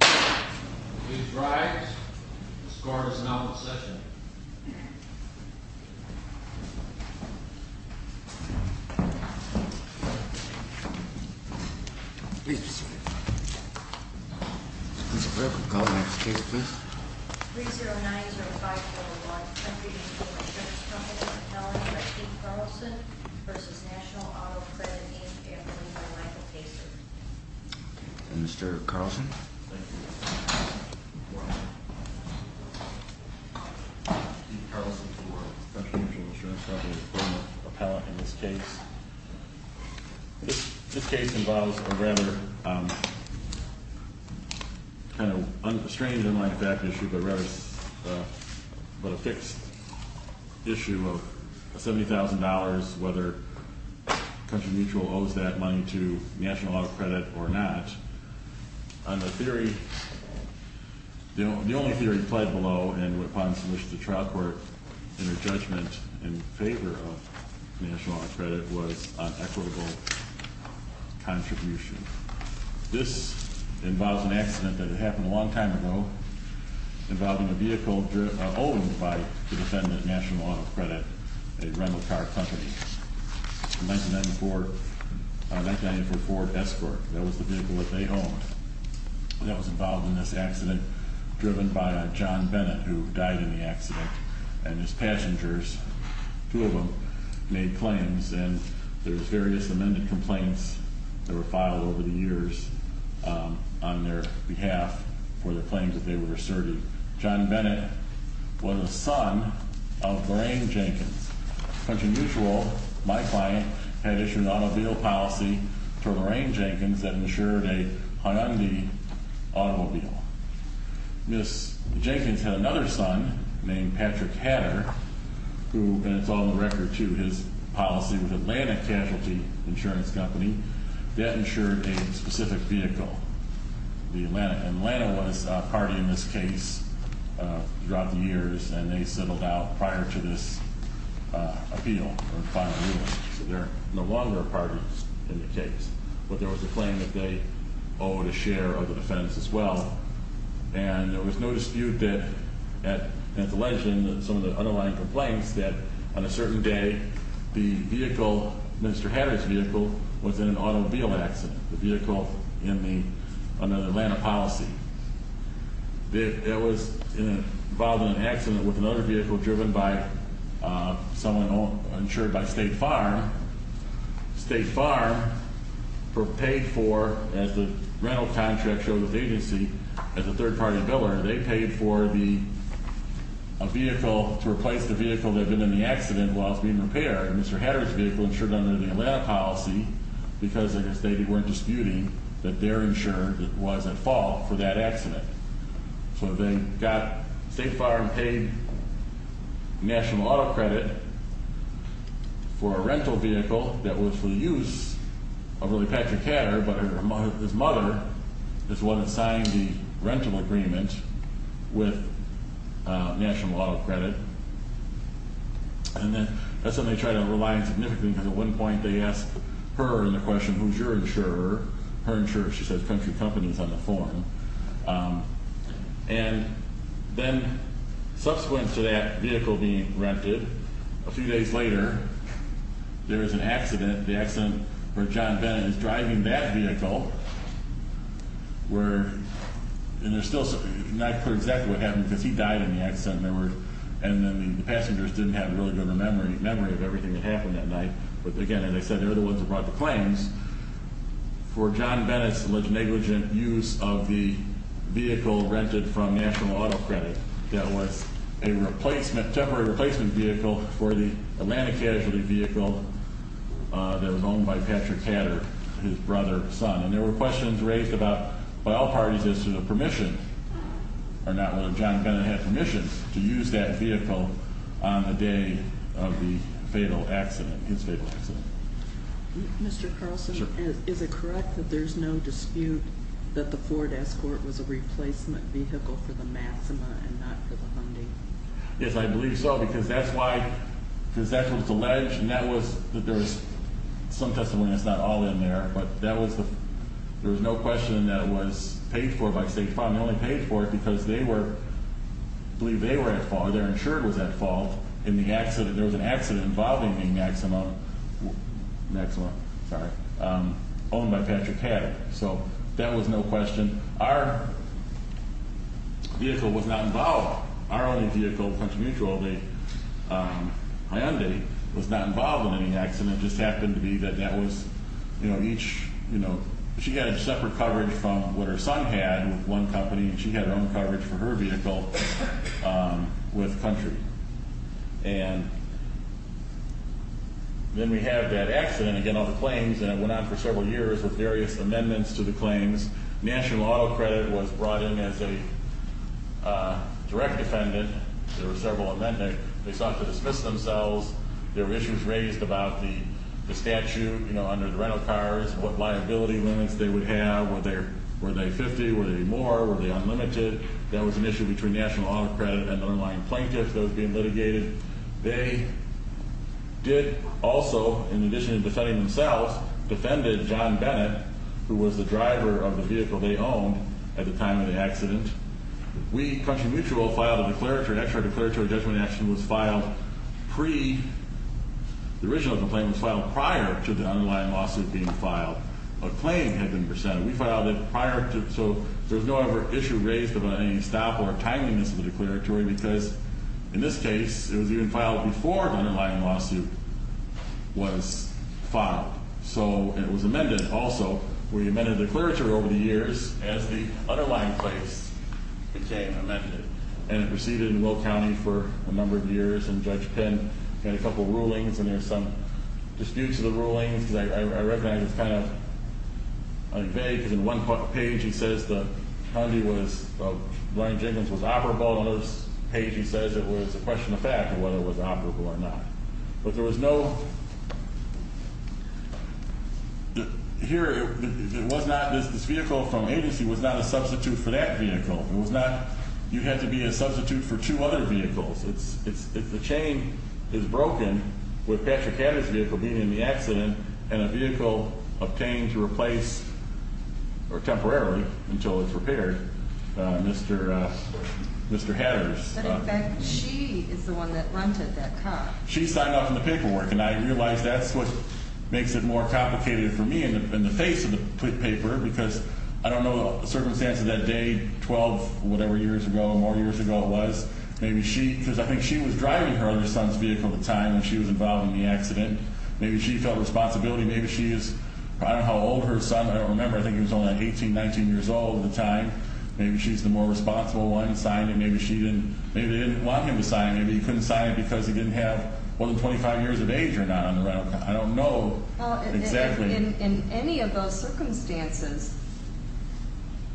Please rise. The score is now in session. Mr. President, call the next case, please. 3090541. Country Mutual Insurance Company Fertility by Steve Carlson v. National Auto Credit, named after me by Michael Pacer. Mr. Carlson. Steve Carlson for Country Mutual Insurance Company, former appellate in this case. This case involves a rather kind of strange and unlike fact issue, but a fixed issue of $70,000, whether Country Mutual owes that money to National Auto Credit or not. On the theory, the only theory pled below and upon submission to trial court and a judgment in favor of National Auto Credit was on equitable contribution. This involves an accident that had happened a long time ago involving a vehicle owed by the defendant, National Auto Credit, a rental car company. I mentioned that before, a 1994 Ford Escort. That was the vehicle that they owned. That was involved in this accident, driven by John Bennett, who died in the accident, and his passengers, two of them, made claims. And there's various amended complaints that were filed over the years on their behalf for the claims that they were asserted. John Bennett was a son of Lorraine Jenkins. Country Mutual, my client, had issued an automobile policy to Lorraine Jenkins that insured a Hyundai automobile. Ms. Jenkins had another son named Patrick Hatter, who, and it's on the record, too, his policy with Atlanta Casualty Insurance Company, that insured a specific vehicle. And Atlanta was a party in this case throughout the years, and they settled out prior to this appeal or final ruling. So they're no longer a party in the case, but there was a claim that they owed a share of the defense as well. And there was no dispute that at the legend, some of the underlying complaints that on a certain day, the vehicle, Mr. Hatter's vehicle, was in an automobile accident. The vehicle under the Atlanta policy. It was involved in an accident with another vehicle driven by someone insured by State Farm. State Farm paid for, as the rental contract shows with agency, as a third-party biller, they paid for a vehicle to replace the vehicle that had been in the accident while it was being repaired. And Mr. Hatter's vehicle insured under the Atlanta policy because, like I stated, they weren't disputing that their insurer was at fault for that accident. So they got State Farm paid national auto credit for a rental vehicle that was for the use of really Patrick Hatter, but his mother is the one that signed the rental agreement with national auto credit. And then that's when they tried to rely significantly because at one point they asked her in the question, who's your insurer? Her insurer, she says, country companies on the form. And then subsequent to that vehicle being rented, a few days later, there was an accident. The accident where John Bennett is driving that vehicle where, and there's still not clear exactly what happened because he died in the accident. And then the passengers didn't have a really good memory of everything that happened that night. But again, as I said, they're the ones who brought the claims for John Bennett's negligent use of the vehicle rented from national auto credit that was a replacement, temporary replacement vehicle for the Atlanta casualty vehicle that was owned by Patrick Hatter, his brother, son. And there were questions raised about, by all parties, as to the permission or not whether John Bennett had permission to use that vehicle on a day of the fatal accident, his fatal accident. Mr. Carlson, is it correct that there's no dispute that the Ford Escort was a replacement vehicle for the Maxima and not for the Hyundai? Yes, I believe so, because that's why, because that was alleged and that was, there's some testimony that's not all in there. But that was the, there was no question that it was paid for by State Farm. They only paid for it because they were, I believe they were at fault or their insurer was at fault in the accident. There was an accident involving the Maxima, Maxima, sorry, owned by Patrick Hatter. So that was no question. Our vehicle was not involved. Our only vehicle, Country Mutual, the Hyundai, was not involved in any accident. It just happened to be that that was, you know, each, you know, she had a separate coverage from what her son had with one company, and she had her own coverage for her vehicle with Country. And then we have that accident, again, all the claims, and it went on for several years with various amendments to the claims. National Auto Credit was brought in as a direct defendant. There were several amendments. They sought to dismiss themselves. There were issues raised about the statute, you know, under the rental cars, what liability limits they would have. Were they 50? Were they more? Were they unlimited? That was an issue between National Auto Credit and underlying plaintiffs that was being litigated. They did also, in addition to defending themselves, defended John Bennett, who was the driver of the vehicle they owned at the time of the accident. We, Country Mutual, filed a declaratory action. Our declaratory judgment action was filed pre-the original complaint was filed prior to the underlying lawsuit being filed. A claim had been presented. We filed it prior to-so there was no other issue raised about any stop or timeliness of the declaratory because, in this case, it was even filed before the underlying lawsuit was filed. So it was amended also. We amended the declaratory over the years as the underlying place became amended. And it proceeded in Will County for a number of years. And Judge Penn had a couple of rulings, and there were some disputes of the rulings. I recognize it's kind of vague because in one page he says the Hyundai was-Larry Jenkins was operable. In another page he says it was a question of fact of whether it was operable or not. But there was no-here, it was not-this vehicle from agency was not a substitute for that vehicle. It was not-you had to be a substitute for two other vehicles. It's-the chain is broken with Patrick Hatter's vehicle being in the accident and a vehicle obtained to replace or temporarily until it's repaired, Mr. Hatter's. In fact, she is the one that rented that car. She signed off on the paperwork, and I realize that's what makes it more complicated for me in the face of the paper because I don't know the circumstance of that day 12-whatever years ago, more years ago it was. Maybe she-because I think she was driving her other son's vehicle at the time when she was involved in the accident. Maybe she felt responsibility. Maybe she is-I don't know how old her son-I don't remember. I think he was only 18, 19 years old at the time. Maybe she's the more responsible one and signed it. Maybe she didn't-maybe they didn't want him to sign it. Maybe he couldn't sign it because he didn't have more than 25 years of age or not on the rental car. I don't know exactly. In any of those circumstances,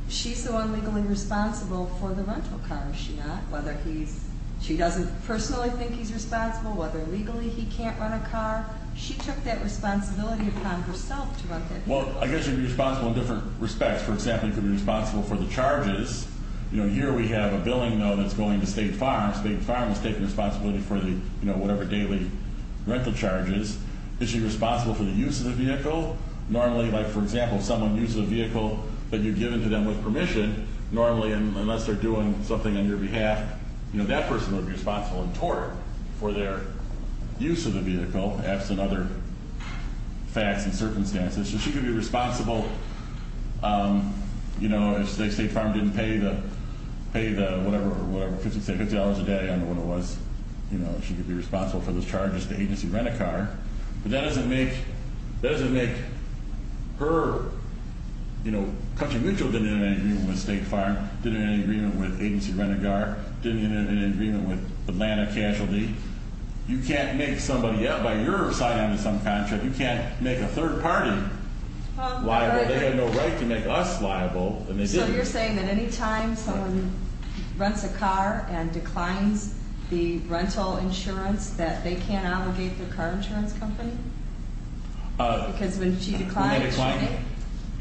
she's the one legally responsible for the rental car, is she not? Whether he's-she doesn't personally think he's responsible, whether legally he can't run a car. She took that responsibility upon herself to run that vehicle. Well, I guess you'd be responsible in different respects. For example, you could be responsible for the charges. You know, here we have a billing, though, that's going to State Farm. State Farm is taking responsibility for the, you know, whatever daily rental charges. Is she responsible for the use of the vehicle? Normally, like, for example, someone uses a vehicle that you've given to them with permission, normally, unless they're doing something on your behalf, you know, that person would be responsible in tort for their use of the vehicle, perhaps in other facts and circumstances. So she could be responsible, you know, if State Farm didn't pay the-pay the whatever, whatever, $50 a day, I don't know what it was, you know, she could be responsible for those charges to agency-rent-a-car. But that doesn't make-that doesn't make her, you know, Country Mutual didn't have any agreement with State Farm, didn't have any agreement with agency-rent-a-car, didn't have any agreement with Atlanta Casualty. You can't make somebody out by your side on some contract. You can't make a third party liable. They have no right to make us liable, and they didn't. Are you saying that any time someone rents a car and declines the rental insurance, that they can't allegate their car insurance company? Because when she declines, she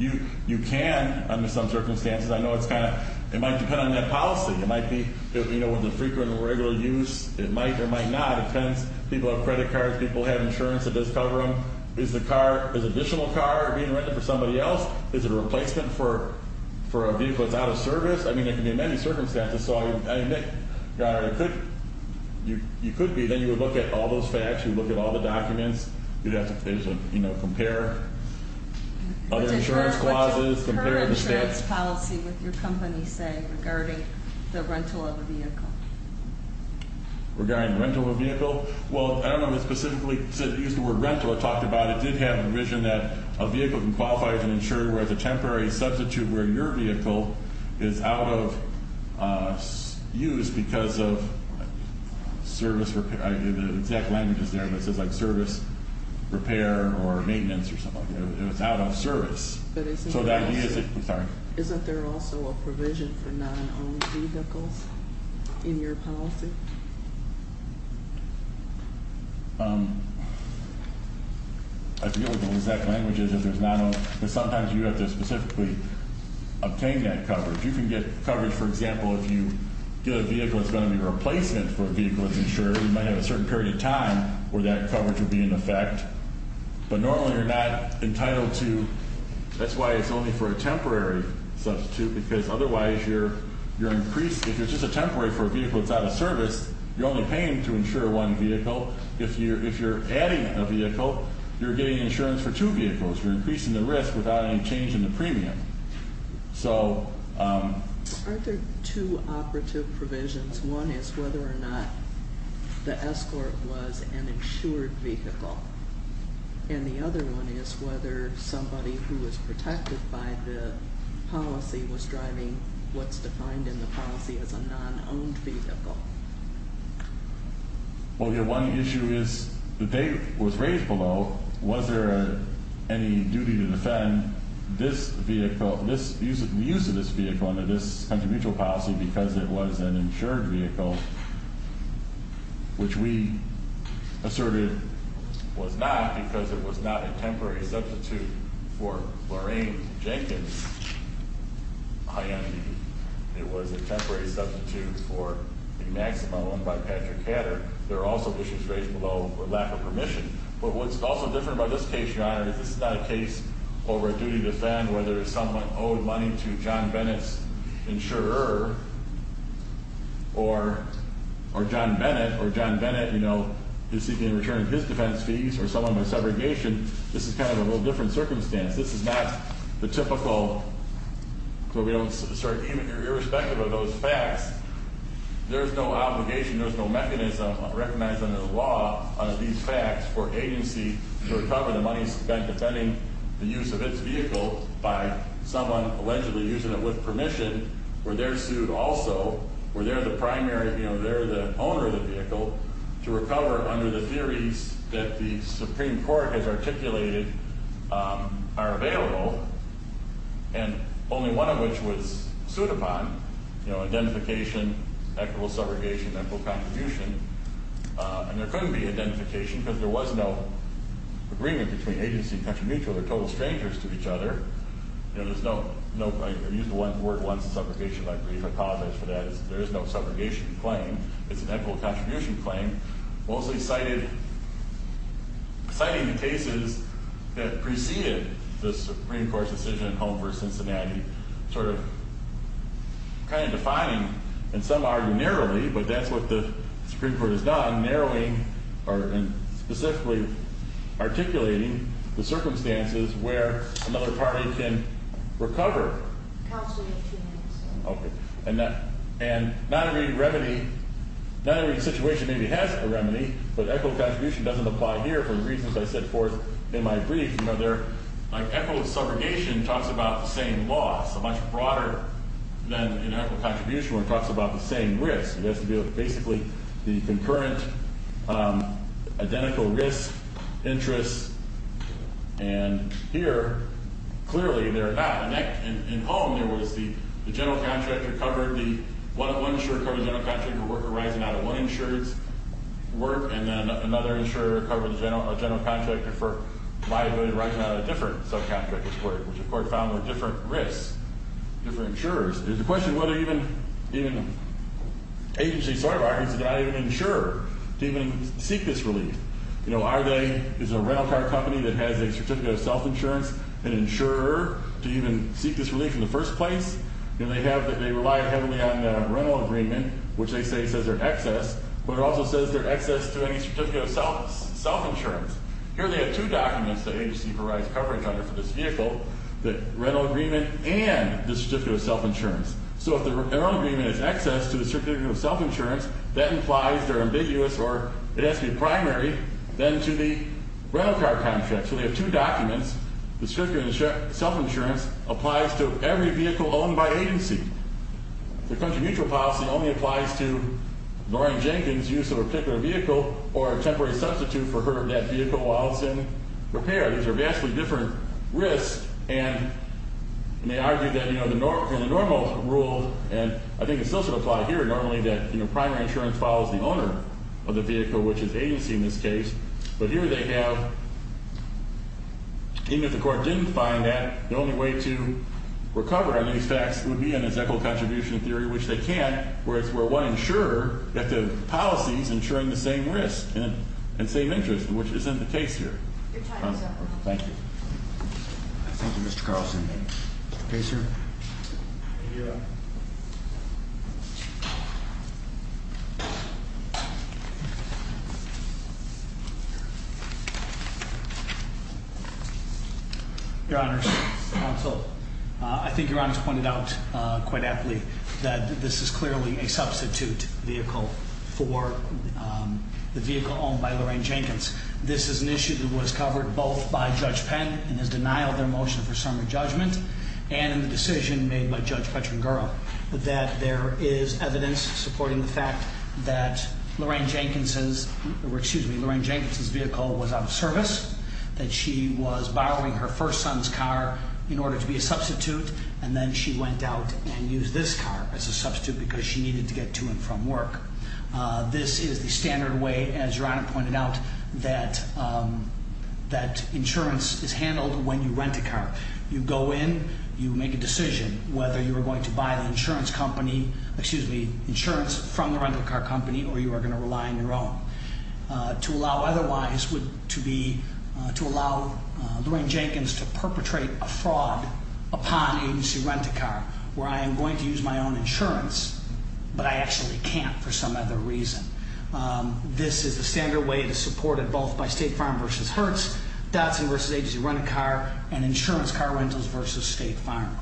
didn't? You can under some circumstances. I know it's kind of-it might depend on net policy. It might be, you know, with the frequent and regular use, it might or might not. It depends. People have credit cards. People have insurance that does cover them. Is the car-is additional car being rented for somebody else? Is it a replacement for a vehicle that's out of service? I mean, it can be in many circumstances. So I admit, God, it could-you could be. Then you would look at all those facts. You would look at all the documents. You'd have to, you know, compare other insurance clauses, compare the stats. What does current insurance policy with your company say regarding the rental of a vehicle? Regarding the rental of a vehicle? Well, I don't know if it specifically used the word rental. It did have a provision that a vehicle can qualify as an insurer where it's a temporary substitute where your vehicle is out of use because of service repair. The exact language is there, but it says, like, service repair or maintenance or something. It was out of service. But isn't there also a provision for non-owned vehicles in your policy? I forget what the exact language is if there's non-owned. But sometimes you have to specifically obtain that coverage. You can get coverage, for example, if you get a vehicle that's going to be a replacement for a vehicle that's insured. You might have a certain period of time where that coverage would be in effect. But normally you're not entitled to. That's why it's only for a temporary substitute because otherwise you're increased. If you're just a temporary for a vehicle that's out of service, you're only paying to insure one vehicle. If you're adding a vehicle, you're getting insurance for two vehicles. You're increasing the risk without any change in the premium. Are there two operative provisions? One is whether or not the escort was an insured vehicle. And the other one is whether somebody who was protected by the policy was driving what's defined in the policy as a non-owned vehicle. Well, one issue is the date was raised below. Was there any duty to defend this vehicle, the use of this vehicle under this country mutual policy because it was an insured vehicle, which we asserted was not because it was not a temporary substitute for Lorraine Jenkins' Hyundai. It was a temporary substitute for the Maximo and by Patrick Hatter. There are also issues raised below for lack of permission. But what's also different about this case, Your Honor, is this is not a case over a duty to defend, whether someone owed money to John Bennett's insurer or John Bennett. Or John Bennett, you know, is seeking to return his defense fees or someone by segregation. This is kind of a little different circumstance. This is not the typical, sort of irrespective of those facts, there's no obligation, there's no mechanism recognized under the law under these facts for agency to recover the money spent defending the use of its vehicle by someone allegedly using it with permission, where they're sued also, where they're the primary, you know, they're the owner of the vehicle, to recover under the theories that the Supreme Court has articulated are available, and only one of which was sued upon, you know, identification, equitable subrogation, equitable contribution. And there couldn't be identification because there was no agreement between agency and country mutual. They're total strangers to each other. You know, there's no, I used the word once, subrogation, I apologize for that. There is no subrogation claim. It's an equitable contribution claim. Mosley cited the cases that preceded the Supreme Court's decision in Holmes v. Cincinnati, sort of kind of defining, and some argue narrowly, but that's what the Supreme Court has done, narrowing or specifically articulating the circumstances where another party can recover. Counsel may have two minutes. Okay. And not every remedy, not every situation maybe has a remedy, but equitable contribution doesn't apply here for the reasons I set forth in my brief. You know, there, like equitable subrogation talks about the same loss, so much broader than an equitable contribution where it talks about the same risk. It has to do with basically the concurrent, identical risk, interest, and here, clearly they're not. In Holmes, there was the general contractor covered, the one insurer covered the general contractor for work arising out of one insurer's work, and then another insurer covered the general contractor for liability arising out of a different subcontractor's work, which the court found were different risks, different insurers. There's a question of whether even agency soil rights, did I even insure to even seek this relief? You know, are they, is a rental car company that has a certificate of self-insurance an insurer? Do you even seek this relief in the first place? And they have, they rely heavily on rental agreement, which they say says they're excess, but it also says they're excess to any certificate of self-insurance. Here they have two documents that agency provides coverage under for this vehicle, the rental agreement and the certificate of self-insurance. So if the rental agreement is excess to the certificate of self-insurance, that implies they're ambiguous or it has to be primary, then to the rental car contract. So they have two documents. The certificate of self-insurance applies to every vehicle owned by agency. The country mutual policy only applies to Lauren Jenkins' use of a particular vehicle or a temporary substitute for her, that vehicle while it's in repair. These are vastly different risks, and they argue that, you know, the normal rule, and I think it still should apply here normally that, you know, primary insurance follows the owner of the vehicle, which is agency in this case. But here they have, even if the court didn't find that, the only way to recover on these facts would be an encyclical contribution theory, which they can't, whereas we're one insurer that the policy is ensuring the same risk and same interest, which isn't the case here. Your time is up. Thank you. Thank you, Mr. Carlson. Mr. Pacer? Thank you. Your Honors, counsel, I think Your Honors pointed out quite aptly that this is clearly a substitute vehicle for the vehicle owned by Lauren Jenkins. This is an issue that was covered both by Judge Penn in his denial of their motion for summary judgment and in the decision made by Judge Petrangura that there is evidence supporting the fact that Lauren Jenkins' vehicle was out of service, that she was borrowing her first son's car in order to be a substitute, and then she went out and used this car as a substitute because she needed to get to and from work. This is the standard way, as Your Honor pointed out, that insurance is handled when you rent a car. You go in, you make a decision whether you are going to buy the insurance company, excuse me, insurance from the rental car company or you are going to rely on your own. To allow otherwise would be to allow Lauren Jenkins to perpetrate a fraud upon agency rent-a-car where I am going to use my own insurance, but I actually can't for some other reason. This is the standard way that is supported both by State Farm v. Hertz, Dodson v. Agency Rent-a-Car, and Insurance Car Rentals v. State Farm.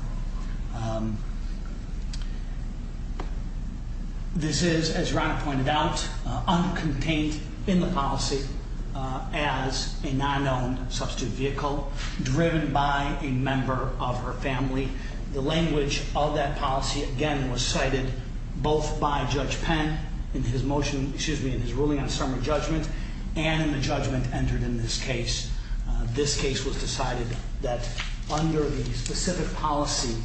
This is, as Your Honor pointed out, uncontained in the policy as a non-owned substitute vehicle driven by a member of her family. The language of that policy, again, was cited both by Judge Penn in his ruling on a summary judgment and in the judgment entered in this case. This case was decided that under the specific policy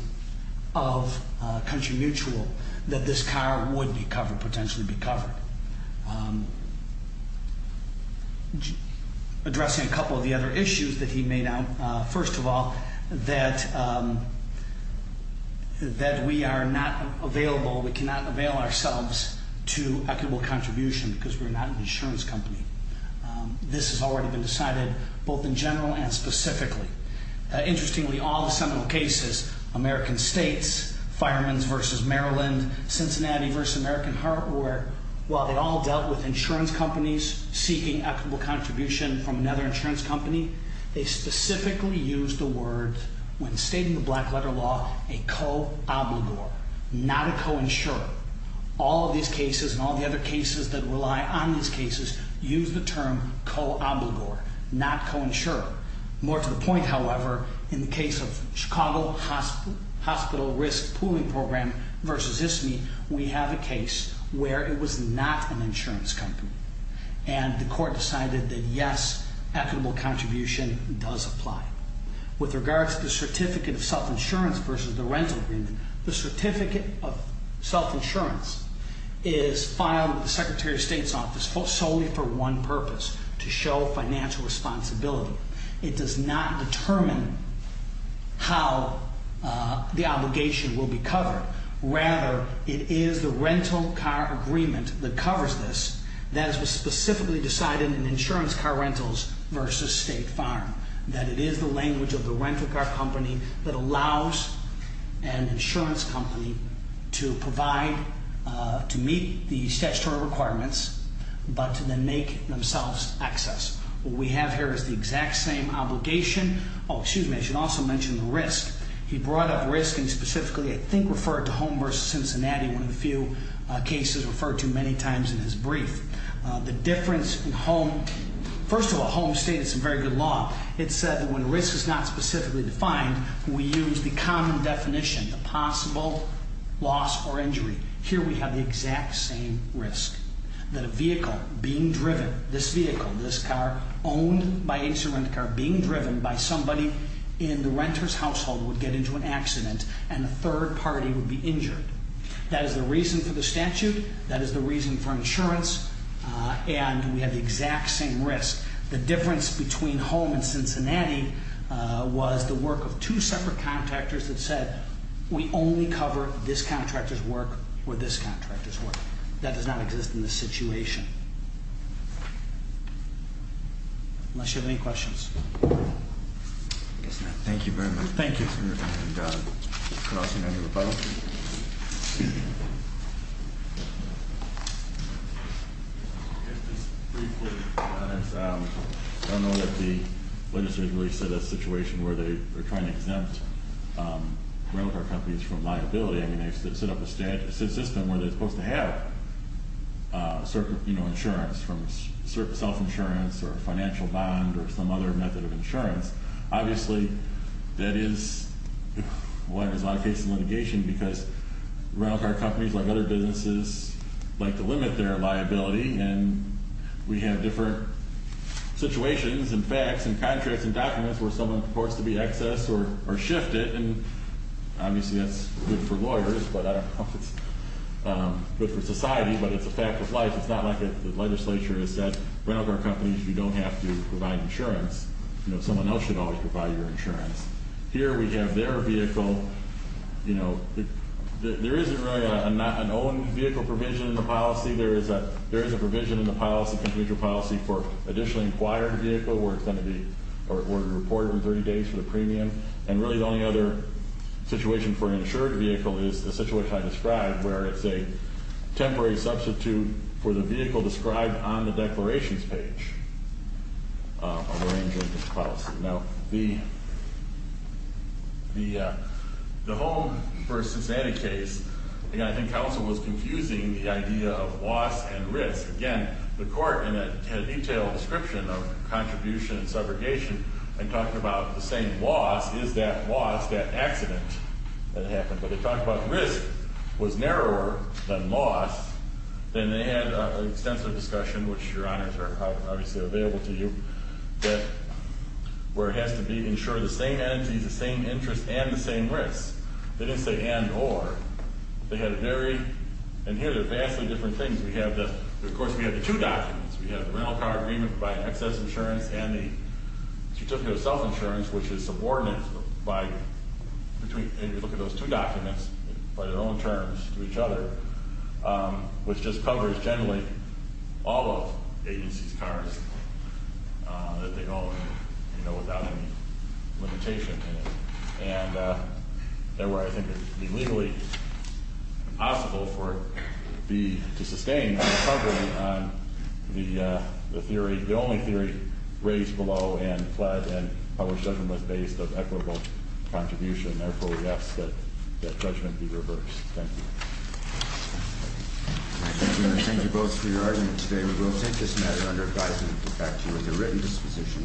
of Country Mutual that this car would be covered, potentially be covered. Addressing a couple of the other issues that he made out, first of all, that we are not available, we cannot avail ourselves to equitable contribution because we are not an insurance company. This has already been decided both in general and specifically. Interestingly, all the seminal cases, American States, Fireman's v. Maryland, Cincinnati v. American Heart, where while they all dealt with insurance companies seeking equitable contribution from another insurance company, they specifically used the word, when stating the black letter law, a co-obligor, not a co-insurer. All of these cases and all the other cases that rely on these cases use the term co-obligor, not co-insurer. More to the point, however, in the case of Chicago Hospital Risk Pooling Program v. ISMI, we have a case where it was not an insurance company, and the court decided that, yes, equitable contribution does apply. With regards to the certificate of self-insurance v. the rental agreement, the certificate of self-insurance is filed with the Secretary of State's office solely for one purpose, to show financial responsibility. It does not determine how the obligation will be covered. Rather, it is the rental car agreement that covers this that is specifically decided in insurance car rentals v. State Farm, that it is the language of the rental car company that allows an insurance company to provide, to meet the statutory requirements, but to then make themselves excess. What we have here is the exact same obligation. Oh, excuse me, I should also mention the risk. He brought up risk and specifically, I think, referred to Home v. Cincinnati, one of the few cases referred to many times in his brief. The difference in Home, first of all, Home stated some very good law. It said that when risk is not specifically defined, we use the common definition, a possible loss or injury. Here we have the exact same risk, that a vehicle being driven, this vehicle, this car owned by an insurance car being driven by somebody in the renter's household would get into an accident and a third party would be injured. That is the reason for the statute. That is the reason for insurance. And we have the exact same risk. The difference between Home and Cincinnati was the work of two separate contractors that said we only cover this contractor's work or this contractor's work. That does not exist in this situation. Unless you have any questions. Yes, ma'am. Thank you very much. Thank you. And could I also make a rebuttal? Just briefly, I don't know that the legislature has really set a situation where they are trying to exempt rental car companies from liability. I mean, they set up a system where they're supposed to have insurance, from self-insurance or a financial bond or some other method of insurance. Obviously, that is why there's a lot of cases of litigation, because rental car companies, like other businesses, like to limit their liability. And that's where someone reports to be excess or shifted. And obviously, that's good for lawyers, but I don't know if it's good for society, but it's a fact of life. It's not like the legislature has said, rental car companies, you don't have to provide insurance. Someone else should always provide your insurance. Here we have their vehicle. There isn't really an owned vehicle provision in the policy. There is a provision in the policy, for additionally acquired vehicle where it's going to be reported within 30 days for the premium. And really, the only other situation for an insured vehicle is the situation I described, where it's a temporary substitute for the vehicle described on the declarations page. Now, the home versus anti-case, again, I think counsel was confusing the idea of loss and risk. Again, the court had a detailed description of contribution and subrogation and talked about the same loss, is that loss, that accident that happened. But they talked about risk was narrower than loss. Then they had an extensive discussion, which, Your Honors, are obviously available to you, where it has to be insured the same entities, the same interests, and the same risks. They didn't say and or. They had a very, and here they're vastly different things. Of course, we have the two documents. We have the rental car agreement providing excess insurance and the certificate of self-insurance, which is subordinate. If you look at those two documents, they apply their own terms to each other, which just covers, generally, all of agencies' cars that they own without any limitation. And, therefore, I think it would be legally impossible for it to sustain without covering on the theory, the only theory raised below and pled and published evidence-based of equitable contribution. Therefore, we ask that judgment be reversed. Thank you. I thank you both for your arguments today. We will take this matter under advisement and put back to you as a written disposition.